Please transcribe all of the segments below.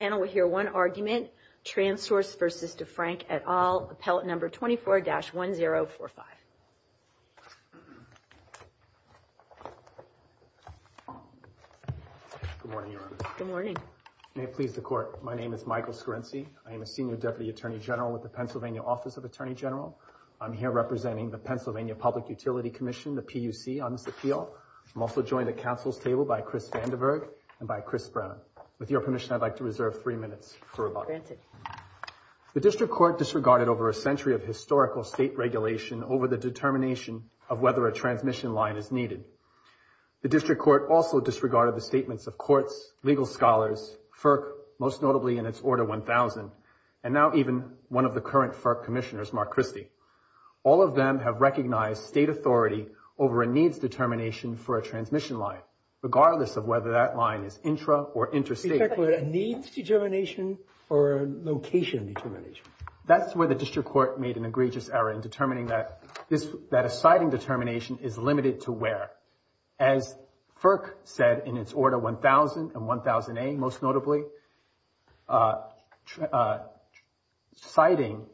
Panel will hear one argument, Transource v. Defrank, et al, Appellate No. 24-1045. Good morning, Your Honor. Good morning. May it please the Court, my name is Michael Scorenci. I am a Senior Deputy Attorney General with the Pennsylvania Office of Attorney General. I'm here representing the Pennsylvania Public Utility Commission, the PUC, on this appeal. I'm also joined at Council's table by Chris Vandiverg and by Chris Brennan. With your permission, I'd like to reserve three minutes for rebuttal. The District Court disregarded over a century of historical state regulation over the determination of whether a transmission line is needed. The District Court also disregarded the statements of courts, legal scholars, FERC, most notably in its Order 1000, and now even one of the current FERC commissioners, Mark Christie. All of them have recognized state authority over a needs determination for a transmission line, regardless of whether that line is intra or interstate. Are you talking about a needs determination or a location determination? That's where the District Court made an egregious error in determining that a citing determination is limited to where. As FERC said in its Order 1000 and 1000A, most notably, citing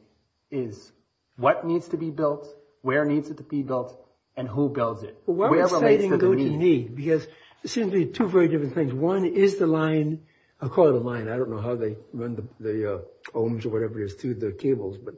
is what needs to be built, where needs it to be built, and who builds it. Where does citing go to need? Because it seems to be two very different things. One is the line. I'll call it a line. I don't know how they run the ohms or whatever it is to the cables. But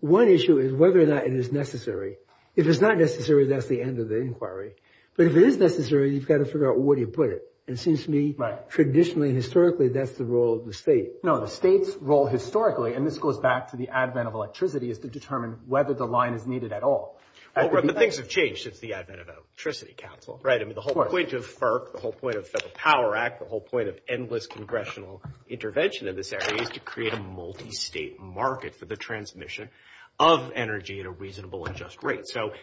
one issue is whether or not it is necessary. If it's not necessary, that's the end of the inquiry. But if it is necessary, you've got to figure out where do you put it. And it seems to me, traditionally, historically, that's the role of the state. No, the state's role historically, and this goes back to the advent of electricity, is to determine whether the line is needed at all. But things have changed since the advent of Electricity Council, right? I mean, the whole point of FERC, the whole point of Federal Power Act, the whole point of endless congressional intervention in this area is to create a multistate market for the transmission of energy in a reasonable and just way. Right, so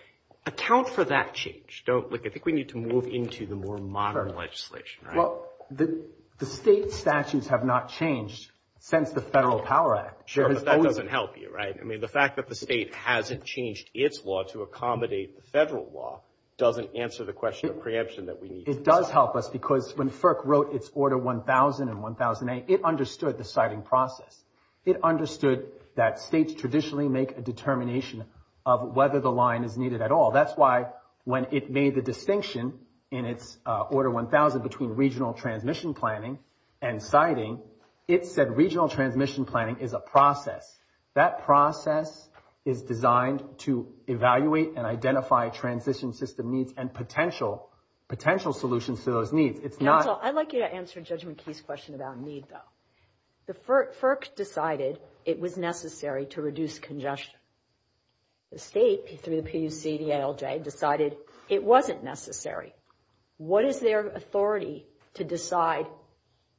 account for that change. I think we need to move into the more modern legislation, right? Well, the state statutes have not changed since the Federal Power Act. Sure, but that doesn't help you, right? I mean, the fact that the state hasn't changed its law to accommodate the federal law doesn't answer the question of preemption that we need. It does help us because when FERC wrote its Order 1000 and 1008, it understood the citing process. It understood that states traditionally make a determination of whether the line is needed at all. That's why when it made the distinction in its Order 1000 between regional transmission planning and citing, it said regional transmission planning is a process. That process is designed to evaluate and identify transition system needs and potential solutions to those needs. Counsel, I'd like you to answer Judgment Key's question about need, though. FERC decided it was necessary to reduce congestion. The state, through the PUC-DALJ, decided it wasn't necessary. What is their authority to decide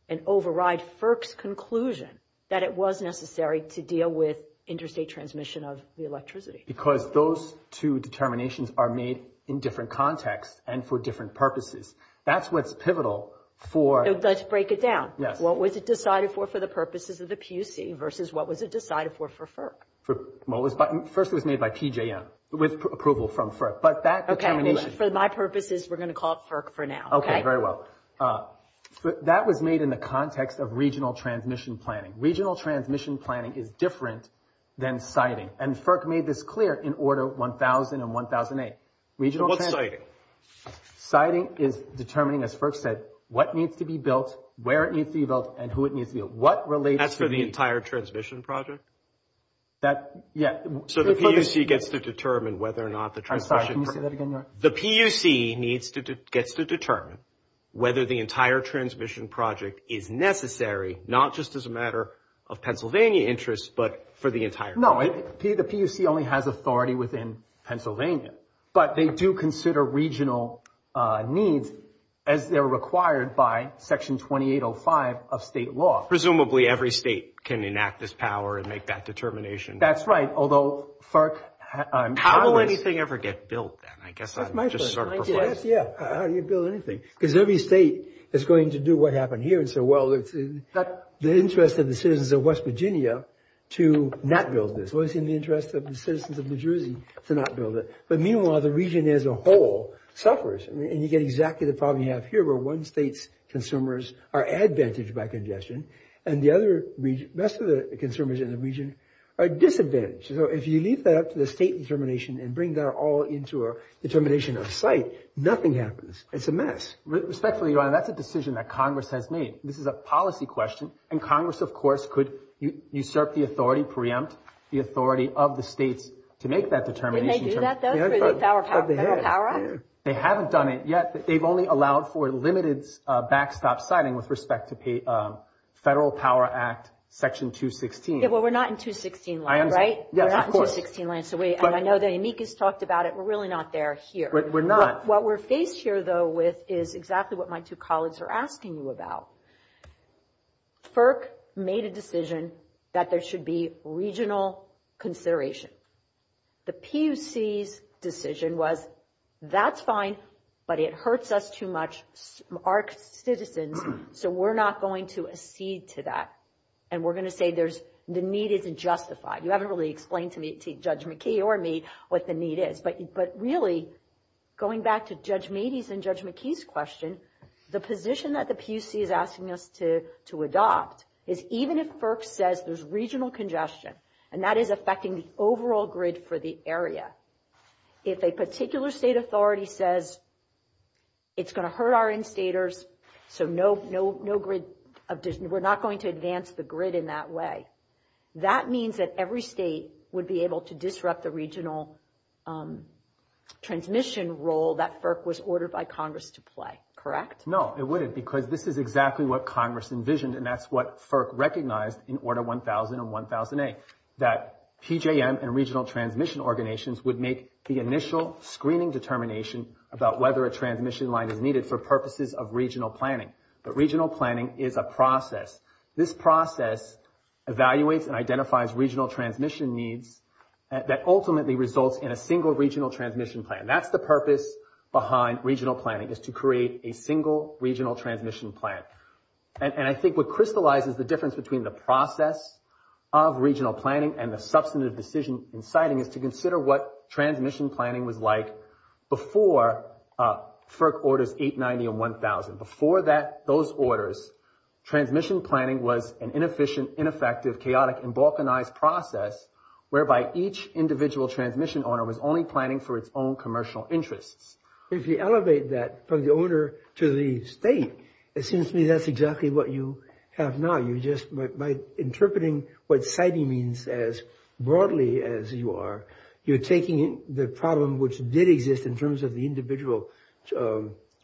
and override FERC's conclusion that it was necessary to deal with interstate transmission of the electricity? Because those two determinations are made in different contexts and for different purposes. That's what's pivotal for- Let's break it down. Yes. What was it decided for for the purposes of the PUC versus what was it decided for for FERC? First, it was made by PJM with approval from FERC. But that determination- For my purposes, we're going to call it FERC for now. Okay. Very well. That was made in the context of regional transmission planning. Regional transmission planning is different than citing, and FERC made this clear in Order 1000 and 1008. What's citing? Citing is determining, as FERC said, what needs to be built, where it needs to be built, and who it needs to be built. What relates to the- That's for the entire transmission project? That- yeah. So the PUC gets to determine whether or not the transmission- I'm sorry. Can you say that again? The PUC gets to determine whether the entire transmission project is necessary, not just as a matter of Pennsylvania interest, but for the entire- No. The PUC only has authority within Pennsylvania, but they do consider regional needs as they're required by Section 2805 of state law. Presumably, every state can enact this power and make that determination. That's right, although FERC- How will anything ever get built then? I guess I'd just sort of- That's my question. Yeah. How do you build anything? Because every state is going to do what happened here and say, well, it's in the interest of the citizens of West Virginia to not build this. It's always in the interest of the citizens of New Jersey to not build it. But meanwhile, the region as a whole suffers, and you get exactly the problem you have here, where one state's consumers are advantaged by congestion, and the other- most of the consumers in the region are disadvantaged. So if you leave that up to the state determination and bring that all into a determination of site, nothing happens. It's a mess. Respectfully, Your Honor, that's a decision that Congress has made. This is a policy question, and Congress, of course, could usurp the authority, preempt the authority of the states to make that determination. Didn't they do that, though, through the Federal Power Act? They haven't done it yet. They've only allowed for limited backstop siting with respect to Federal Power Act Section 216. Yeah, well, we're not in 216 land, right? Yeah, of course. We're not in 216 land, so we- and I know that Yannick has talked about it. We're really not there here. We're not. What we're faced here, though, with is exactly what my two colleagues are asking you about. FERC made a decision that there should be regional consideration. The PUC's decision was, that's fine, but it hurts us too much, our citizens, so we're not going to accede to that, and we're going to say there's- the need isn't justified. You haven't really explained to Judge McKee or me what the need is. But really, going back to Judge Meadey's and Judge McKee's question, the position that the PUC is asking us to adopt is even if FERC says there's regional congestion, and that is affecting the overall grid for the area, if a particular state authority says it's going to hurt our instators, so no grid of- we're not going to advance the grid in that way, that means that every state would be able to disrupt the regional transmission role that FERC was ordered by Congress to play. Correct? No, it wouldn't, because this is exactly what Congress envisioned, and that's what FERC recognized in Order 1000 and 1000A, that PJM and regional transmission organizations would make the initial screening determination about whether a transmission line is needed for purposes of regional planning. But regional planning is a process. This process evaluates and identifies regional transmission needs that ultimately results in a single regional transmission plan. That's the purpose behind regional planning, is to create a single regional transmission plan. And I think what crystallizes the difference between the process of regional planning and the substantive decision in siting is to consider what transmission planning was like before FERC Orders 890 and 1000. Before those orders, transmission planning was an inefficient, ineffective, chaotic, and balkanized process whereby each individual transmission owner was only planning for its own commercial interests. If you elevate that from the owner to the state, it seems to me that's exactly what you have now. By interpreting what siting means as broadly as you are, you're taking the problem which did exist in terms of the individual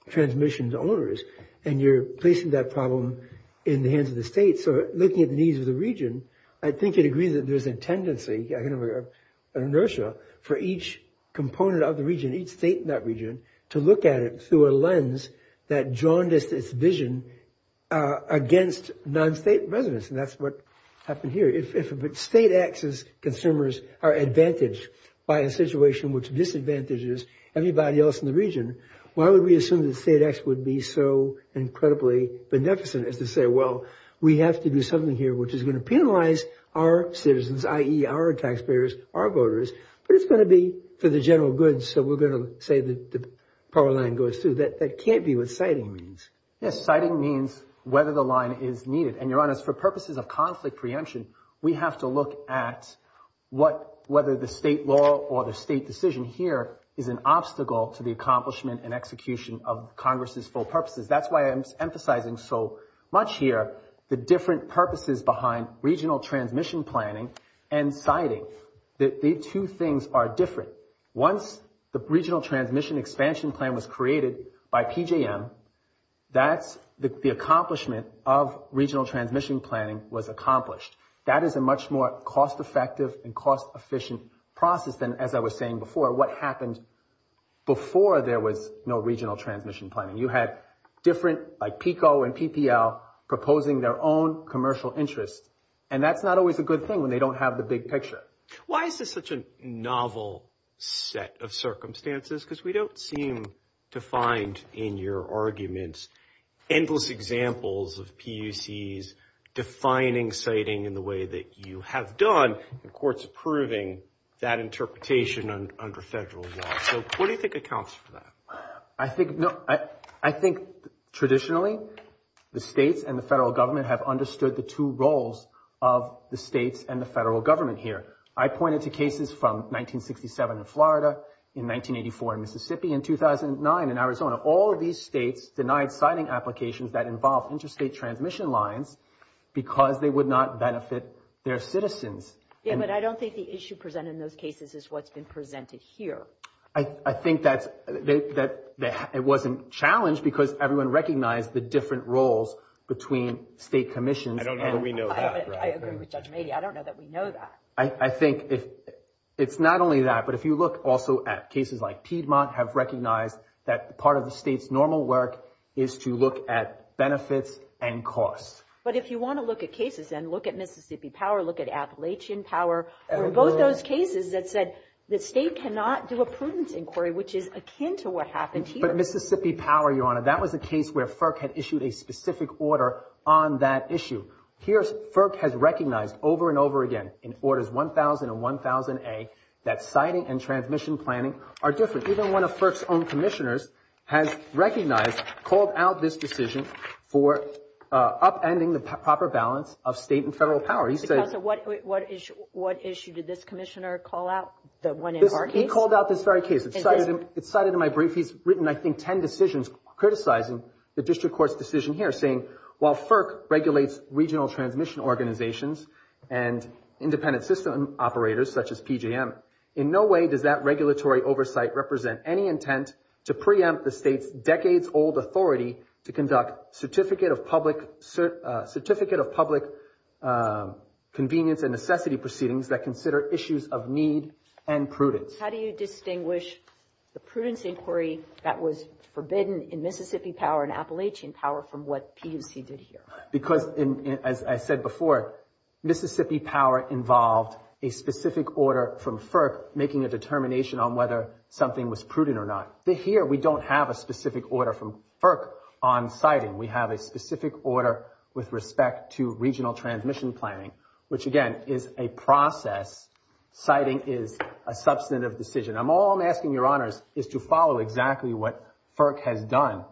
transmission to owners, and you're placing that problem in the hands of the state. So looking at the needs of the region, I think you'd agree that there's a tendency, kind of an inertia for each component of the region, each state in that region, to look at it through a lens that jaundiced its vision against non-state residents, and that's what happened here. If state acts as consumers are advantaged by a situation which disadvantages everybody else in the region, why would we assume that state acts would be so incredibly beneficent as to say, well, we have to do something here which is going to penalize our citizens, i.e., our taxpayers, our voters, but it's going to be for the general good, so we're going to say that the power line goes through. That can't be what siting means. Yes, siting means whether the line is needed, and, Your Honors, for purposes of conflict preemption, we have to look at whether the state law or the state decision here is an obstacle to the accomplishment and execution of Congress's full purposes. That's why I'm emphasizing so much here the different purposes behind regional transmission planning and siting. The two things are different. Once the regional transmission expansion plan was created by PJM, that's the accomplishment of regional transmission planning was accomplished. That is a much more cost-effective and cost-efficient process than, as I was saying before, what happened before there was no regional transmission planning. You had different, like PICO and PPL, proposing their own commercial interests, and that's not always a good thing when they don't have the big picture. Why is this such a novel set of circumstances? Because we don't seem to find in your arguments endless examples of PUCs defining siting in the way that you have done and courts approving that interpretation under federal law. So what do you think accounts for that? I think traditionally the states and the federal government have understood the two roles of the states and the federal government here. I pointed to cases from 1967 in Florida, in 1984 in Mississippi, in 2009 in Arizona. All of these states denied siting applications that involved interstate transmission lines because they would not benefit their citizens. Yeah, but I don't think the issue presented in those cases is what's been presented here. I think that it wasn't challenged because everyone recognized the different roles between state commissions. I don't know that we know that. I agree with Judge Mady. I don't know that we know that. I think it's not only that, but if you look also at cases like Piedmont, have recognized that part of the state's normal work is to look at benefits and costs. But if you want to look at cases and look at Mississippi Power, look at Appalachian Power, were both those cases that said the state cannot do a prudence inquiry, which is akin to what happened here. But Mississippi Power, Your Honor, that was a case where FERC had issued a specific order on that issue. Here FERC has recognized over and over again, in Orders 1000 and 1000A, that siting and transmission planning are different. Even one of FERC's own commissioners has recognized, called out this decision for upending the proper balance of state and federal power. Counsel, what issue did this commissioner call out, the one in our case? He called out this very case. It's cited in my brief. He's written, I think, ten decisions criticizing the district court's decision here, saying while FERC regulates regional transmission organizations and independent system operators such as PJM, in no way does that regulatory oversight represent any intent to preempt the state's decades-old authority to conduct certificate of public convenience and necessity proceedings that consider issues of need and prudence. How do you distinguish the prudence inquiry that was forbidden in Mississippi Power and Appalachian Power from what PUC did here? Because, as I said before, Mississippi Power involved a specific order from FERC making a determination on whether something was prudent or not. Here we don't have a specific order from FERC on siting. We have a specific order with respect to regional transmission planning, which, again, is a process. Siting is a substantive decision. All I'm asking, Your Honors, is to follow exactly what FERC has done.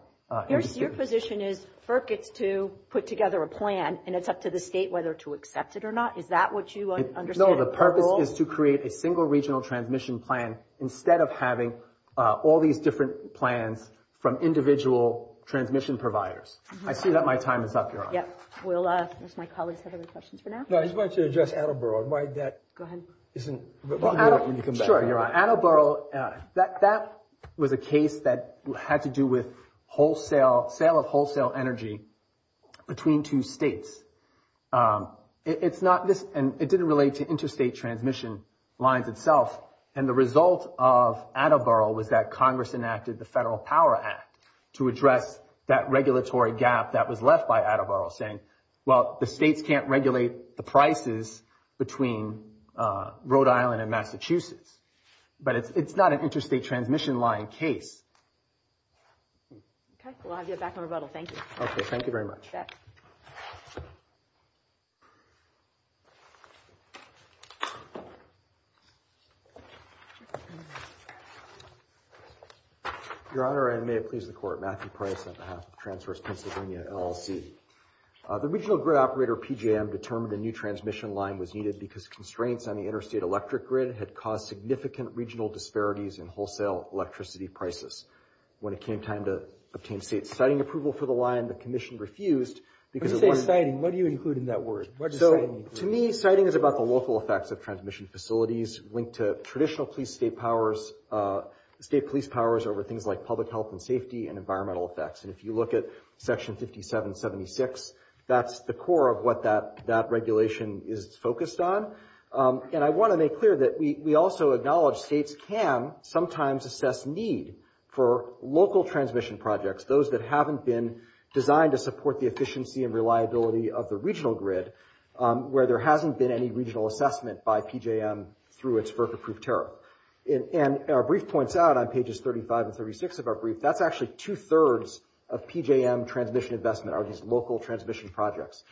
Your position is FERC gets to put together a plan, and it's up to the state whether to accept it or not? Is that what you understand? No, the purpose is to create a single regional transmission plan instead of having all these different plans from individual transmission providers. I see that my time is up, Your Honor. Yes. Will my colleagues have any questions for now? No, I just wanted to address Attleboro. Go ahead. Sure, you're on. Attleboro, that was a case that had to do with wholesale, sale of wholesale energy between two states. It's not this, and it didn't relate to interstate transmission lines itself, and the result of Attleboro was that Congress enacted the Federal Power Act to address that regulatory gap that was left by Attleboro, saying, well, the states can't regulate the prices between Rhode Island and Massachusetts. But it's not an interstate transmission line case. Okay, we'll have you back on rebuttal. Thank you. Okay, thank you very much. Your Honor, and may it please the Court, Matthew Price on behalf of Transverse Pennsylvania LLC. The regional grid operator, PJM, determined a new transmission line was needed because constraints on the interstate electric grid had caused significant regional disparities in wholesale electricity prices. When it came time to obtain state siting approval for the line, the Commission refused. When you say siting, what do you include in that word? To me, siting is about the local effects of transmission facilities linked to traditional state police powers over things like public health and safety and environmental effects. And if you look at Section 5776, that's the core of what that regulation is focused on. And I want to make clear that we also acknowledge states can sometimes assess need for local transmission projects, those that haven't been designed to support the efficiency and reliability of the regional grid, where there hasn't been any regional assessment by PJM through its FERC-approved tariff. And our brief points out on pages 35 and 36 of our brief, that's actually two-thirds of PJM transmission investment are these local transmission projects.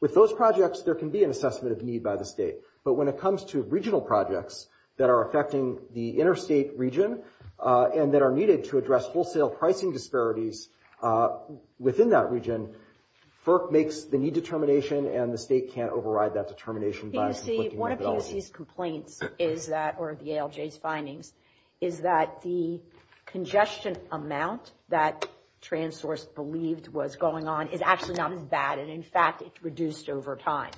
With those projects, there can be an assessment of need by the state. But when it comes to regional projects that are affecting the interstate region and that are needed to address wholesale pricing disparities within that region, FERC makes the need determination, and the state can't override that determination. One of PUC's complaints is that, or the ALJ's findings, is that the congestion amount that TransSource believed was going on is actually not as bad. And in fact, it's reduced over time.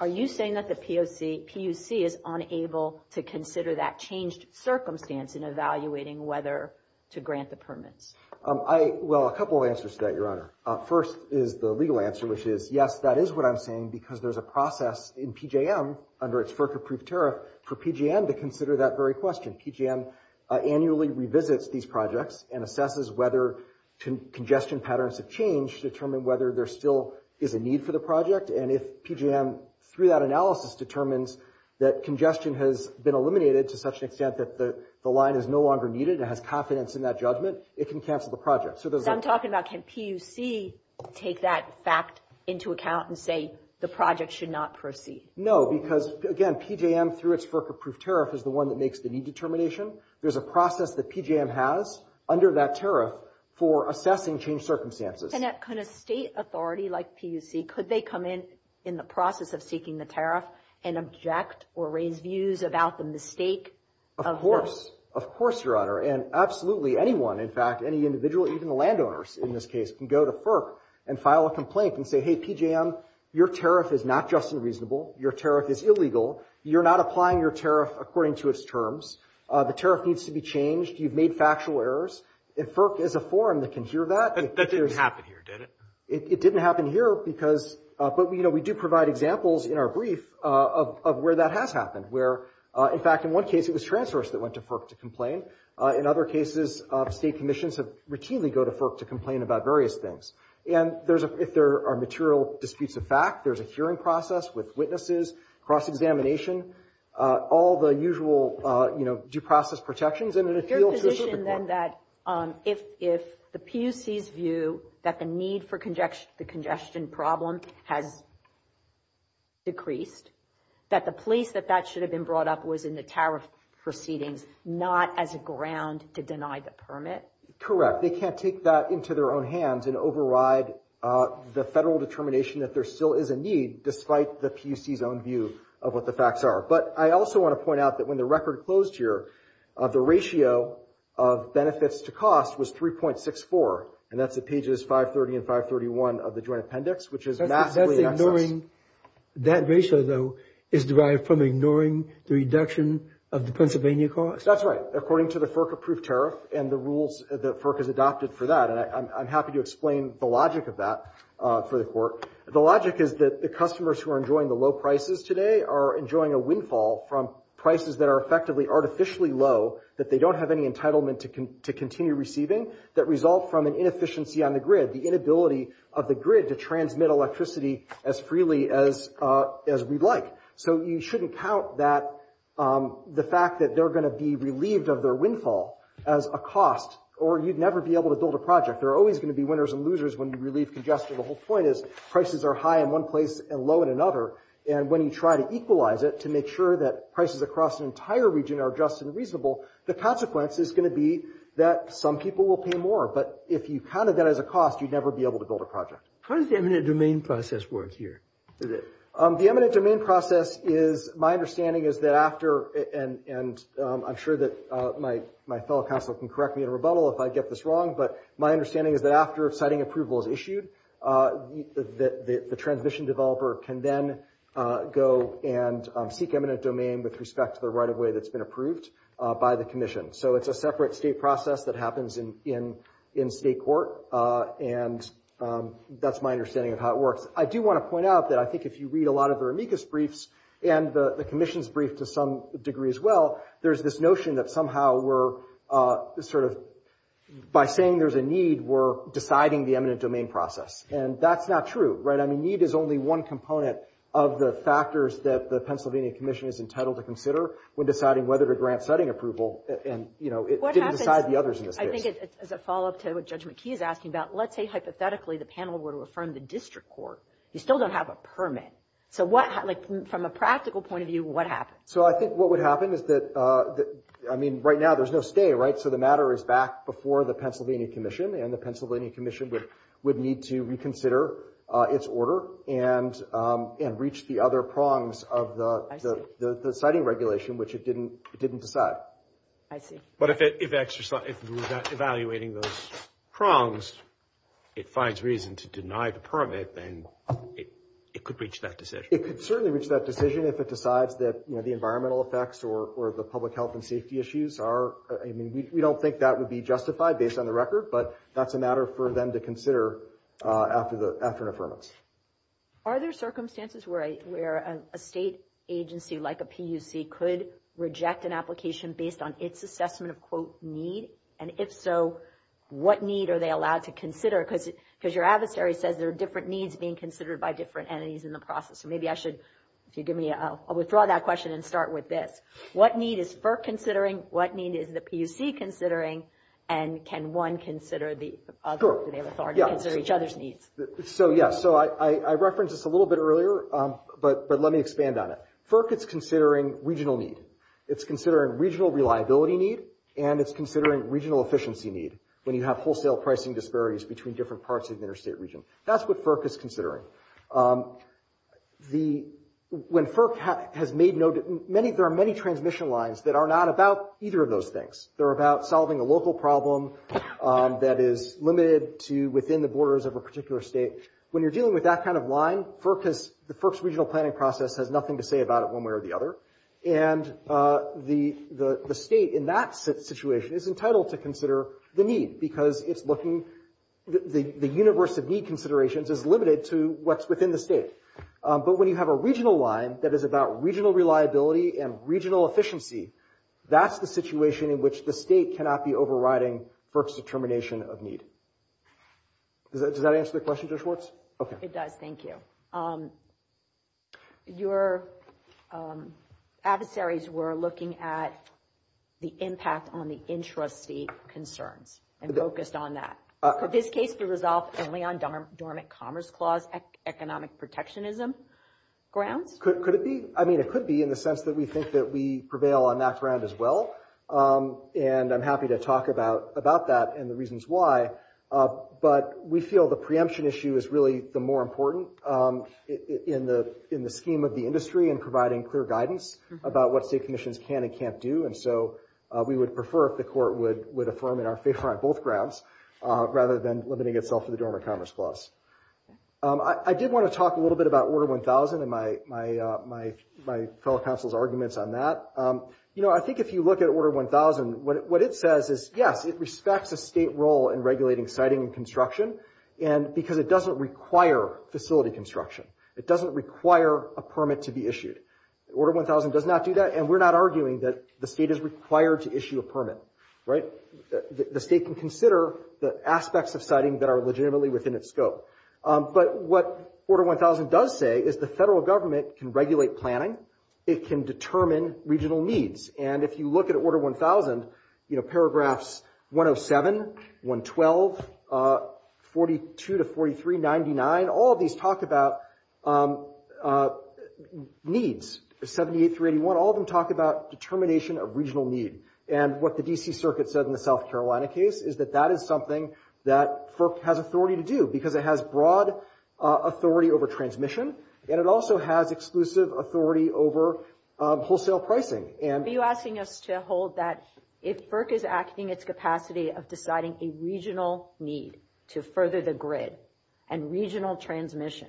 Are you saying that the PUC is unable to consider that changed circumstance in evaluating whether to grant the permits? Well, a couple of answers to that, Your Honor. First is the legal answer, which is, yes, that is what I'm saying, because there's a process in PJM under its FERC-approved tariff for PJM to consider that very question. PJM annually revisits these projects and assesses whether congestion patterns have changed to determine whether there still is a need for the project, and if PJM, through that analysis, determines that congestion has been eliminated to such an extent that the line is no longer needed and has confidence in that judgment, it can cancel the project. So I'm talking about, can PUC take that fact into account and say the project should not proceed? No, because, again, PJM, through its FERC-approved tariff, is the one that makes the need determination. There's a process that PJM has under that tariff for assessing changed circumstances. And can a state authority like PUC, could they come in in the process of seeking the tariff and object or raise views about the mistake? Of course. Of course, Your Honor. And absolutely anyone, in fact, any individual, even the landowners in this case, can go to FERC and file a complaint and say, hey, PJM, your tariff is not just and reasonable. Your tariff is illegal. You're not applying your tariff according to its terms. The tariff needs to be changed. You've made factual errors. And FERC is a forum that can hear that. That didn't happen here, did it? It didn't happen here because, but, you know, we do provide examples in our brief of where that has happened. Where, in fact, in one case, it was TransSource that went to FERC to complain. In other cases, state commissions have routinely go to FERC to complain about various things. And if there are material disputes of fact, there's a hearing process with witnesses, cross-examination, all the usual, you know, due process protections. Your position, then, that if the PUC's view that the need for the congestion problem has decreased, that the place that that should have been brought up was in the tariff proceedings, not as a ground to deny the permit? Correct. They can't take that into their own hands and override the federal determination that there still is a need, despite the PUC's own view of what the facts are. But I also want to point out that when the record closed here, the ratio of benefits to cost was 3.64. And that's at pages 530 and 531 of the Joint Appendix, which is massively excess. That ratio, though, is derived from ignoring the reduction of the Pennsylvania cost? That's right, according to the FERC-approved tariff and the rules that FERC has adopted for that. And I'm happy to explain the logic of that for the Court. The logic is that the customers who are enjoying the low prices today are enjoying a windfall from prices that are effectively artificially low, that they don't have any entitlement to continue receiving, that result from an inefficiency on the grid, the inability of the grid to transmit electricity as freely as we'd like. So you shouldn't count the fact that they're going to be relieved of their windfall as a cost, or you'd never be able to build a project. There are always going to be winners and losers when you relieve congestion. The whole point is prices are high in one place and low in another. And when you try to equalize it to make sure that prices across an entire region are just and reasonable, the consequence is going to be that some people will pay more. But if you counted that as a cost, you'd never be able to build a project. How does the eminent domain process work here? The eminent domain process is, my understanding is that after, and I'm sure that my fellow counsel can correct me in a rebuttal if I get this wrong, but my understanding is that after siting approval is issued, the transmission developer can then go and seek eminent domain with respect to the right-of-way that's been approved by the commission. So it's a separate state process that happens in state court. And that's my understanding of how it works. I do want to point out that I think if you read a lot of the Ramekis briefs and the commission's brief to some degree as well, there's this notion that somehow we're sort of, by saying there's a need, we're deciding the eminent domain process. And that's not true, right? I mean, need is only one component of the factors that the Pennsylvania Commission is entitled to consider when deciding whether to grant siting approval. And, you know, it didn't decide the others in this case. I think as a follow-up to what Judge McKee is asking about, let's say hypothetically the panel were to affirm the district court. You still don't have a permit. So from a practical point of view, what happens? So I think what would happen is that, I mean, right now there's no stay, right? So the matter is back before the Pennsylvania Commission, and the Pennsylvania Commission would need to reconsider its order and reach the other prongs of the siting regulation, which it didn't decide. I see. But if we're evaluating those prongs, it finds reason to deny the permit, then it could reach that decision. It could certainly reach that decision if it decides that, you know, the environmental effects or the public health and safety issues are, I mean, we don't think that would be justified based on the record, but that's a matter for them to consider after an affirmance. Are there circumstances where a state agency like a PUC could reject an application based on its assessment of, quote, need? And if so, what need are they allowed to consider? Because your adversary says there are different needs being considered by different entities in the process. So maybe I should, if you give me a, I'll withdraw that question and start with this. What need is FERC considering, what need is the PUC considering, and can one consider the other? Do they have authority to consider each other's needs? So, yeah, so I referenced this a little bit earlier, but let me expand on it. FERC is considering regional need. It's considering regional reliability need, and it's considering regional efficiency need, when you have wholesale pricing disparities between different parts of the interstate region. That's what FERC is considering. When FERC has made no, there are many transmission lines that are not about either of those things. They're about solving a local problem that is limited to within the borders of a particular state. When you're dealing with that kind of line, FERC's regional planning process has nothing to say about it one way or the other, and the state in that situation is entitled to consider the need because it's looking, the universe of need considerations is limited to what's within the state. But when you have a regional line that is about regional reliability and regional efficiency, that's the situation in which the state cannot be overriding FERC's determination of need. Does that answer the question, Judge Schwartz? It does, thank you. Your adversaries were looking at the impact on the intrastate concerns and focused on that. Could this case be resolved only on dormant commerce clause economic protectionism grounds? Could it be? I mean, it could be in the sense that we think that we prevail on that ground as well, and I'm happy to talk about that and the reasons why. But we feel the preemption issue is really the more important in the scheme of the industry and providing clear guidance about what state commissions can and can't do, and so we would prefer if the court would affirm in our favor on both grounds rather than limiting itself to the dormant commerce clause. I did want to talk a little bit about Order 1000 and my fellow counsel's arguments on that. I think if you look at Order 1000, what it says is, yes, it respects a state role in regulating siting and construction because it doesn't require facility construction. It doesn't require a permit to be issued. Order 1000 does not do that, and we're not arguing that the state is required to issue a permit. The state can consider the aspects of siting that are legitimately within its scope. But what Order 1000 does say is the federal government can regulate planning. It can determine regional needs. And if you look at Order 1000, you know, paragraphs 107, 112, 42 to 43, 99, all of these talk about needs, 78 through 81. All of them talk about determination of regional need. And what the D.C. Circuit said in the South Carolina case is that that is something that FERC has authority to do because it has broad authority over transmission, and it also has exclusive authority over wholesale pricing. Are you asking us to hold that if FERC is acting its capacity of deciding a regional need to further the grid and regional transmission,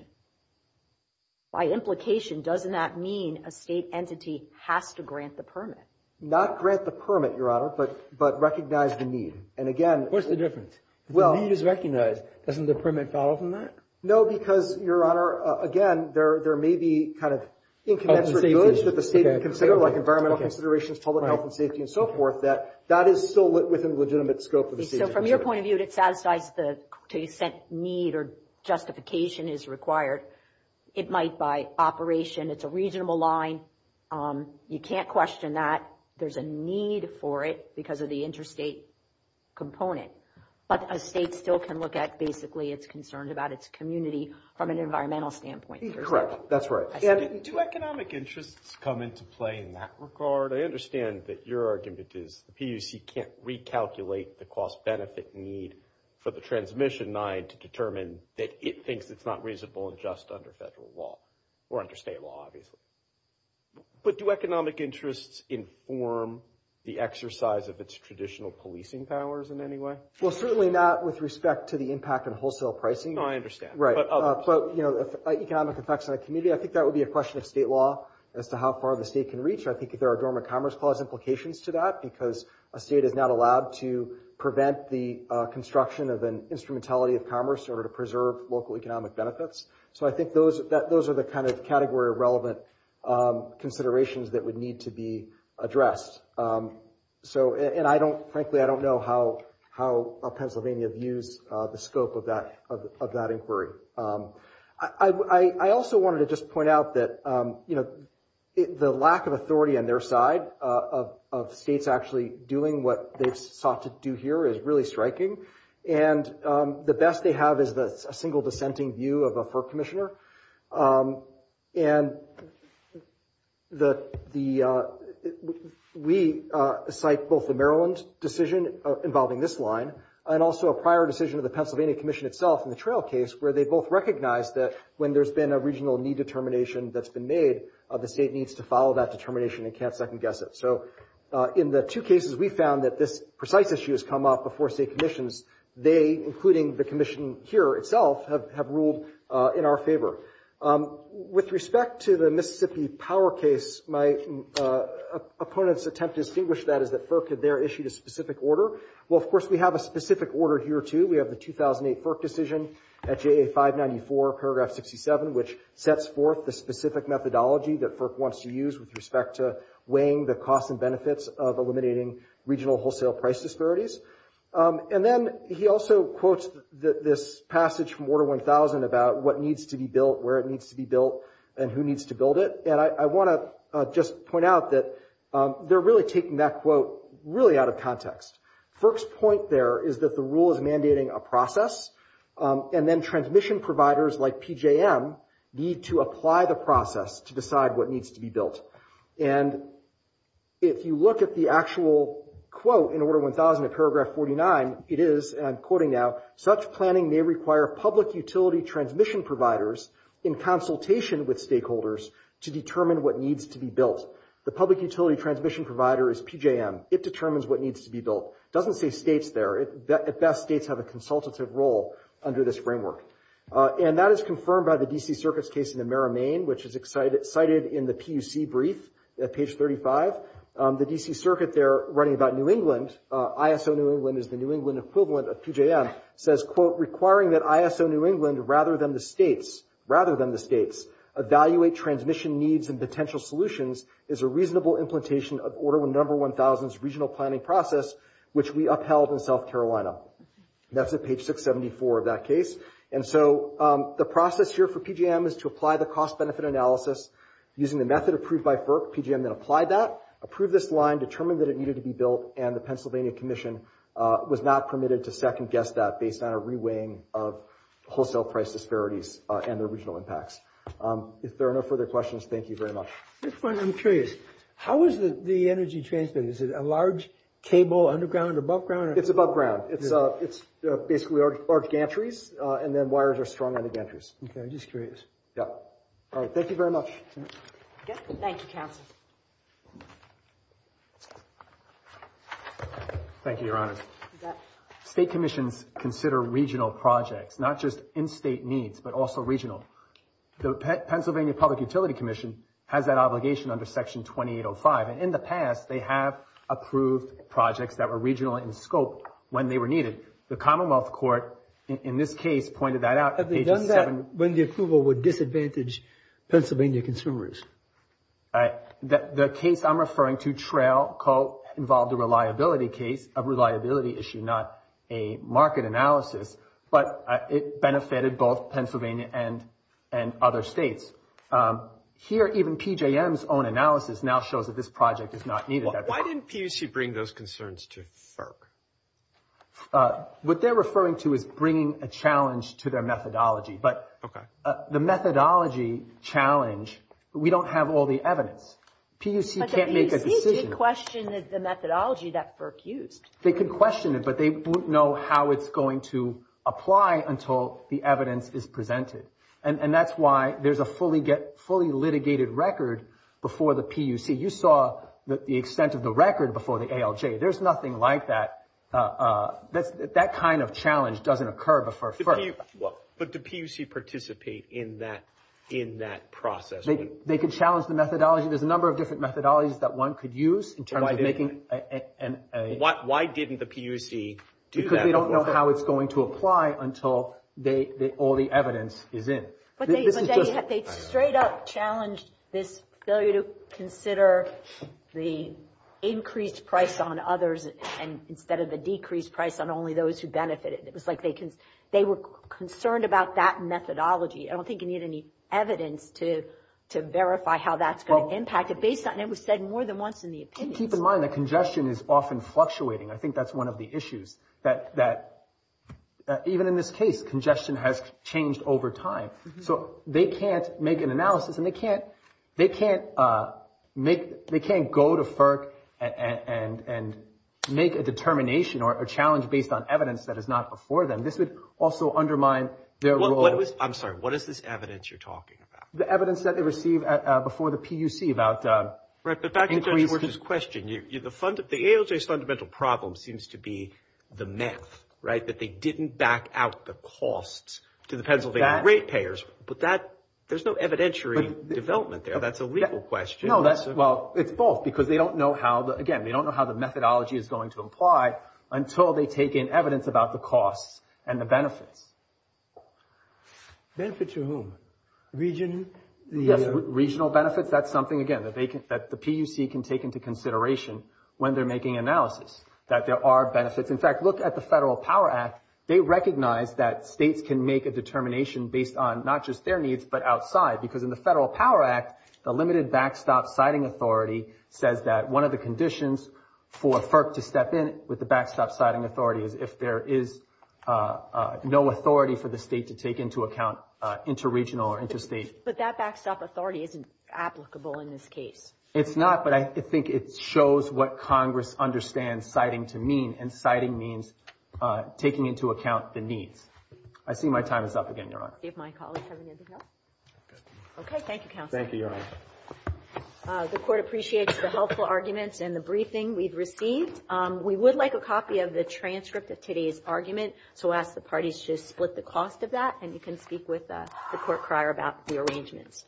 by implication, doesn't that mean a state entity has to grant the permit? Not grant the permit, Your Honor, but recognize the need. And, again— What's the difference? If the need is recognized, doesn't the permit follow from that? No, because, Your Honor, again, there may be kind of incommensurate goods that the state can consider, like environmental considerations, public health and safety, and so forth, that that is still within legitimate scope of the state. So, from your point of view, it satisfies the need or justification is required. It might, by operation, it's a reasonable line. You can't question that. There's a need for it because of the interstate component. But a state still can look at, basically, its concerns about its community from an environmental standpoint. Correct, that's right. Do economic interests come into play in that regard? I understand that your argument is the PUC can't recalculate the cost-benefit need for the transmission line to determine that it thinks it's not reasonable and just under federal law, or under state law, obviously. But do economic interests inform the exercise of its traditional policing powers in any way? Well, certainly not with respect to the impact on wholesale pricing. No, I understand. Economic effects on the community, I think that would be a question of state law as to how far the state can reach. I think there are dormant commerce clause implications to that, because a state is not allowed to prevent the construction of an instrumentality of commerce in order to preserve local economic benefits. So I think those are the kind of category-relevant considerations that would need to be addressed. And frankly, I don't know how Pennsylvania views the scope of that inquiry. I also wanted to just point out that the lack of authority on their side of states actually doing what they've sought to do here is really striking. And the best they have is a single dissenting view of a FERC commissioner. And we cite both the Maryland decision involving this line, and also a prior decision of the Pennsylvania Commission itself in the trail case, where they both recognize that when there's been a regional need determination that's been made, the state needs to follow that determination and can't second-guess it. So in the two cases we found that this precise issue has come up before state commissions, they, including the commission here itself, have ruled in our favor. With respect to the Mississippi Power case, my opponent's attempt to distinguish that is that FERC had there issued a specific order. Well, of course, we have a specific order here, too. We have the 2008 FERC decision at J.A. 594, paragraph 67, which sets forth the specific methodology that FERC wants to use with respect to weighing the costs and benefits of eliminating regional wholesale price disparities. And then he also quotes this passage from Order 1000 about what needs to be built, where it needs to be built, and who needs to build it. And I want to just point out that they're really taking that quote really out of context. FERC's point there is that the rule is mandating a process, and then transmission providers like PJM need to apply the process to decide what needs to be built. And if you look at the actual quote in Order 1000 in paragraph 49, it is, and I'm quoting now, such planning may require public utility transmission providers in consultation with stakeholders to determine what needs to be built. The public utility transmission provider is PJM. It determines what needs to be built. It doesn't say states there. At best, states have a consultative role under this framework. And that is confirmed by the D.C. Circuit's case in the Mara, Maine, which is cited in the PUC brief at page 35. The D.C. Circuit there, writing about New England, ISO New England is the New England equivalent of PJM, says, quote, requiring that ISO New England, rather than the states, rather than the states, evaluate transmission needs and potential solutions is a reasonable implementation of Order 1000's regional planning process, which we upheld in South Carolina. That's at page 674 of that case. And so the process here for PJM is to apply the cost-benefit analysis using the method approved by FERC. PJM then applied that, approved this line, determined that it needed to be built, and the Pennsylvania Commission was not permitted to second-guess that based on a reweighing of wholesale price disparities and their regional impacts. If there are no further questions, thank you very much. I'm curious. How is the energy transmitted? Is it a large cable underground, above ground? It's above ground. It's basically large gantries, and then wires are strung on the gantries. Okay, I'm just curious. Yeah. All right, thank you very much. Thank you, counsel. Thank you, Your Honor. State commissions consider regional projects, not just in-state needs, but also regional. The Pennsylvania Public Utility Commission has that obligation under Section 2805, and in the past they have approved projects that were regional in scope when they were needed. The Commonwealth Court, in this case, pointed that out. Have they done that when the approval would disadvantage Pennsylvania consumers? The case I'm referring to, TRAIL, involved a reliability case, a reliability issue, not a market analysis, but it benefited both Pennsylvania and other states. Here, even PJM's own analysis now shows that this project is not needed. Why didn't PUC bring those concerns to FERC? What they're referring to is bringing a challenge to their methodology, but the methodology challenge, we don't have all the evidence. PUC can't make a decision. But the PUC did question the methodology that FERC used. They could question it, but they wouldn't know how it's going to apply until the evidence is presented, and that's why there's a fully litigated record before the PUC. You saw the extent of the record before the ALJ. There's nothing like that. That kind of challenge doesn't occur before FERC. But do PUC participate in that process? They could challenge the methodology. There's a number of different methodologies that one could use in terms of making a— Why didn't the PUC do that? Because they don't know how it's going to apply until all the evidence is in. But they straight up challenged this failure to consider the increased price on others instead of the decreased price on only those who benefited. It was like they were concerned about that methodology. I don't think you need any evidence to verify how that's going to impact it. It was said more than once in the opinions. Keep in mind that congestion is often fluctuating. I think that's one of the issues, that even in this case, congestion has changed over time. So they can't make an analysis, and they can't go to FERC and make a determination or a challenge based on evidence that is not before them. This would also undermine their role. I'm sorry. What is this evidence you're talking about? The evidence that they receive before the PUC about increases. Right, but back to Judge Worthen's question. The ALJ's fundamental problem seems to be the math, right, that they didn't back out the costs to the Pennsylvania rate payers. But that—there's no evidentiary development there. That's a legal question. No, that's—well, it's both, because they don't know how the— again, they don't know how the methodology is going to apply until they take in evidence about the costs and the benefits. Benefits to whom? Region? Yes, regional benefits. That's something, again, that the PUC can take into consideration when they're making analysis, that there are benefits. In fact, look at the Federal Power Act. They recognize that states can make a determination based on not just their needs but outside, because in the Federal Power Act, the limited backstop siting authority says that one of the conditions for FERC to step in with the backstop siting authority is if there is no authority for the state to take into account interregional or interstate. But that backstop authority isn't applicable in this case. It's not, but I think it shows what Congress understands siting to mean, and siting means taking into account the needs. I see my time is up again, Your Honor. Do my colleagues have anything else? Okay, thank you, Counsel. Thank you, Your Honor. The Court appreciates the helpful arguments and the briefing we've received. We would like a copy of the transcript of today's argument, so I'll ask the parties to split the cost of that, and you can speak with the court crier about the arrangements.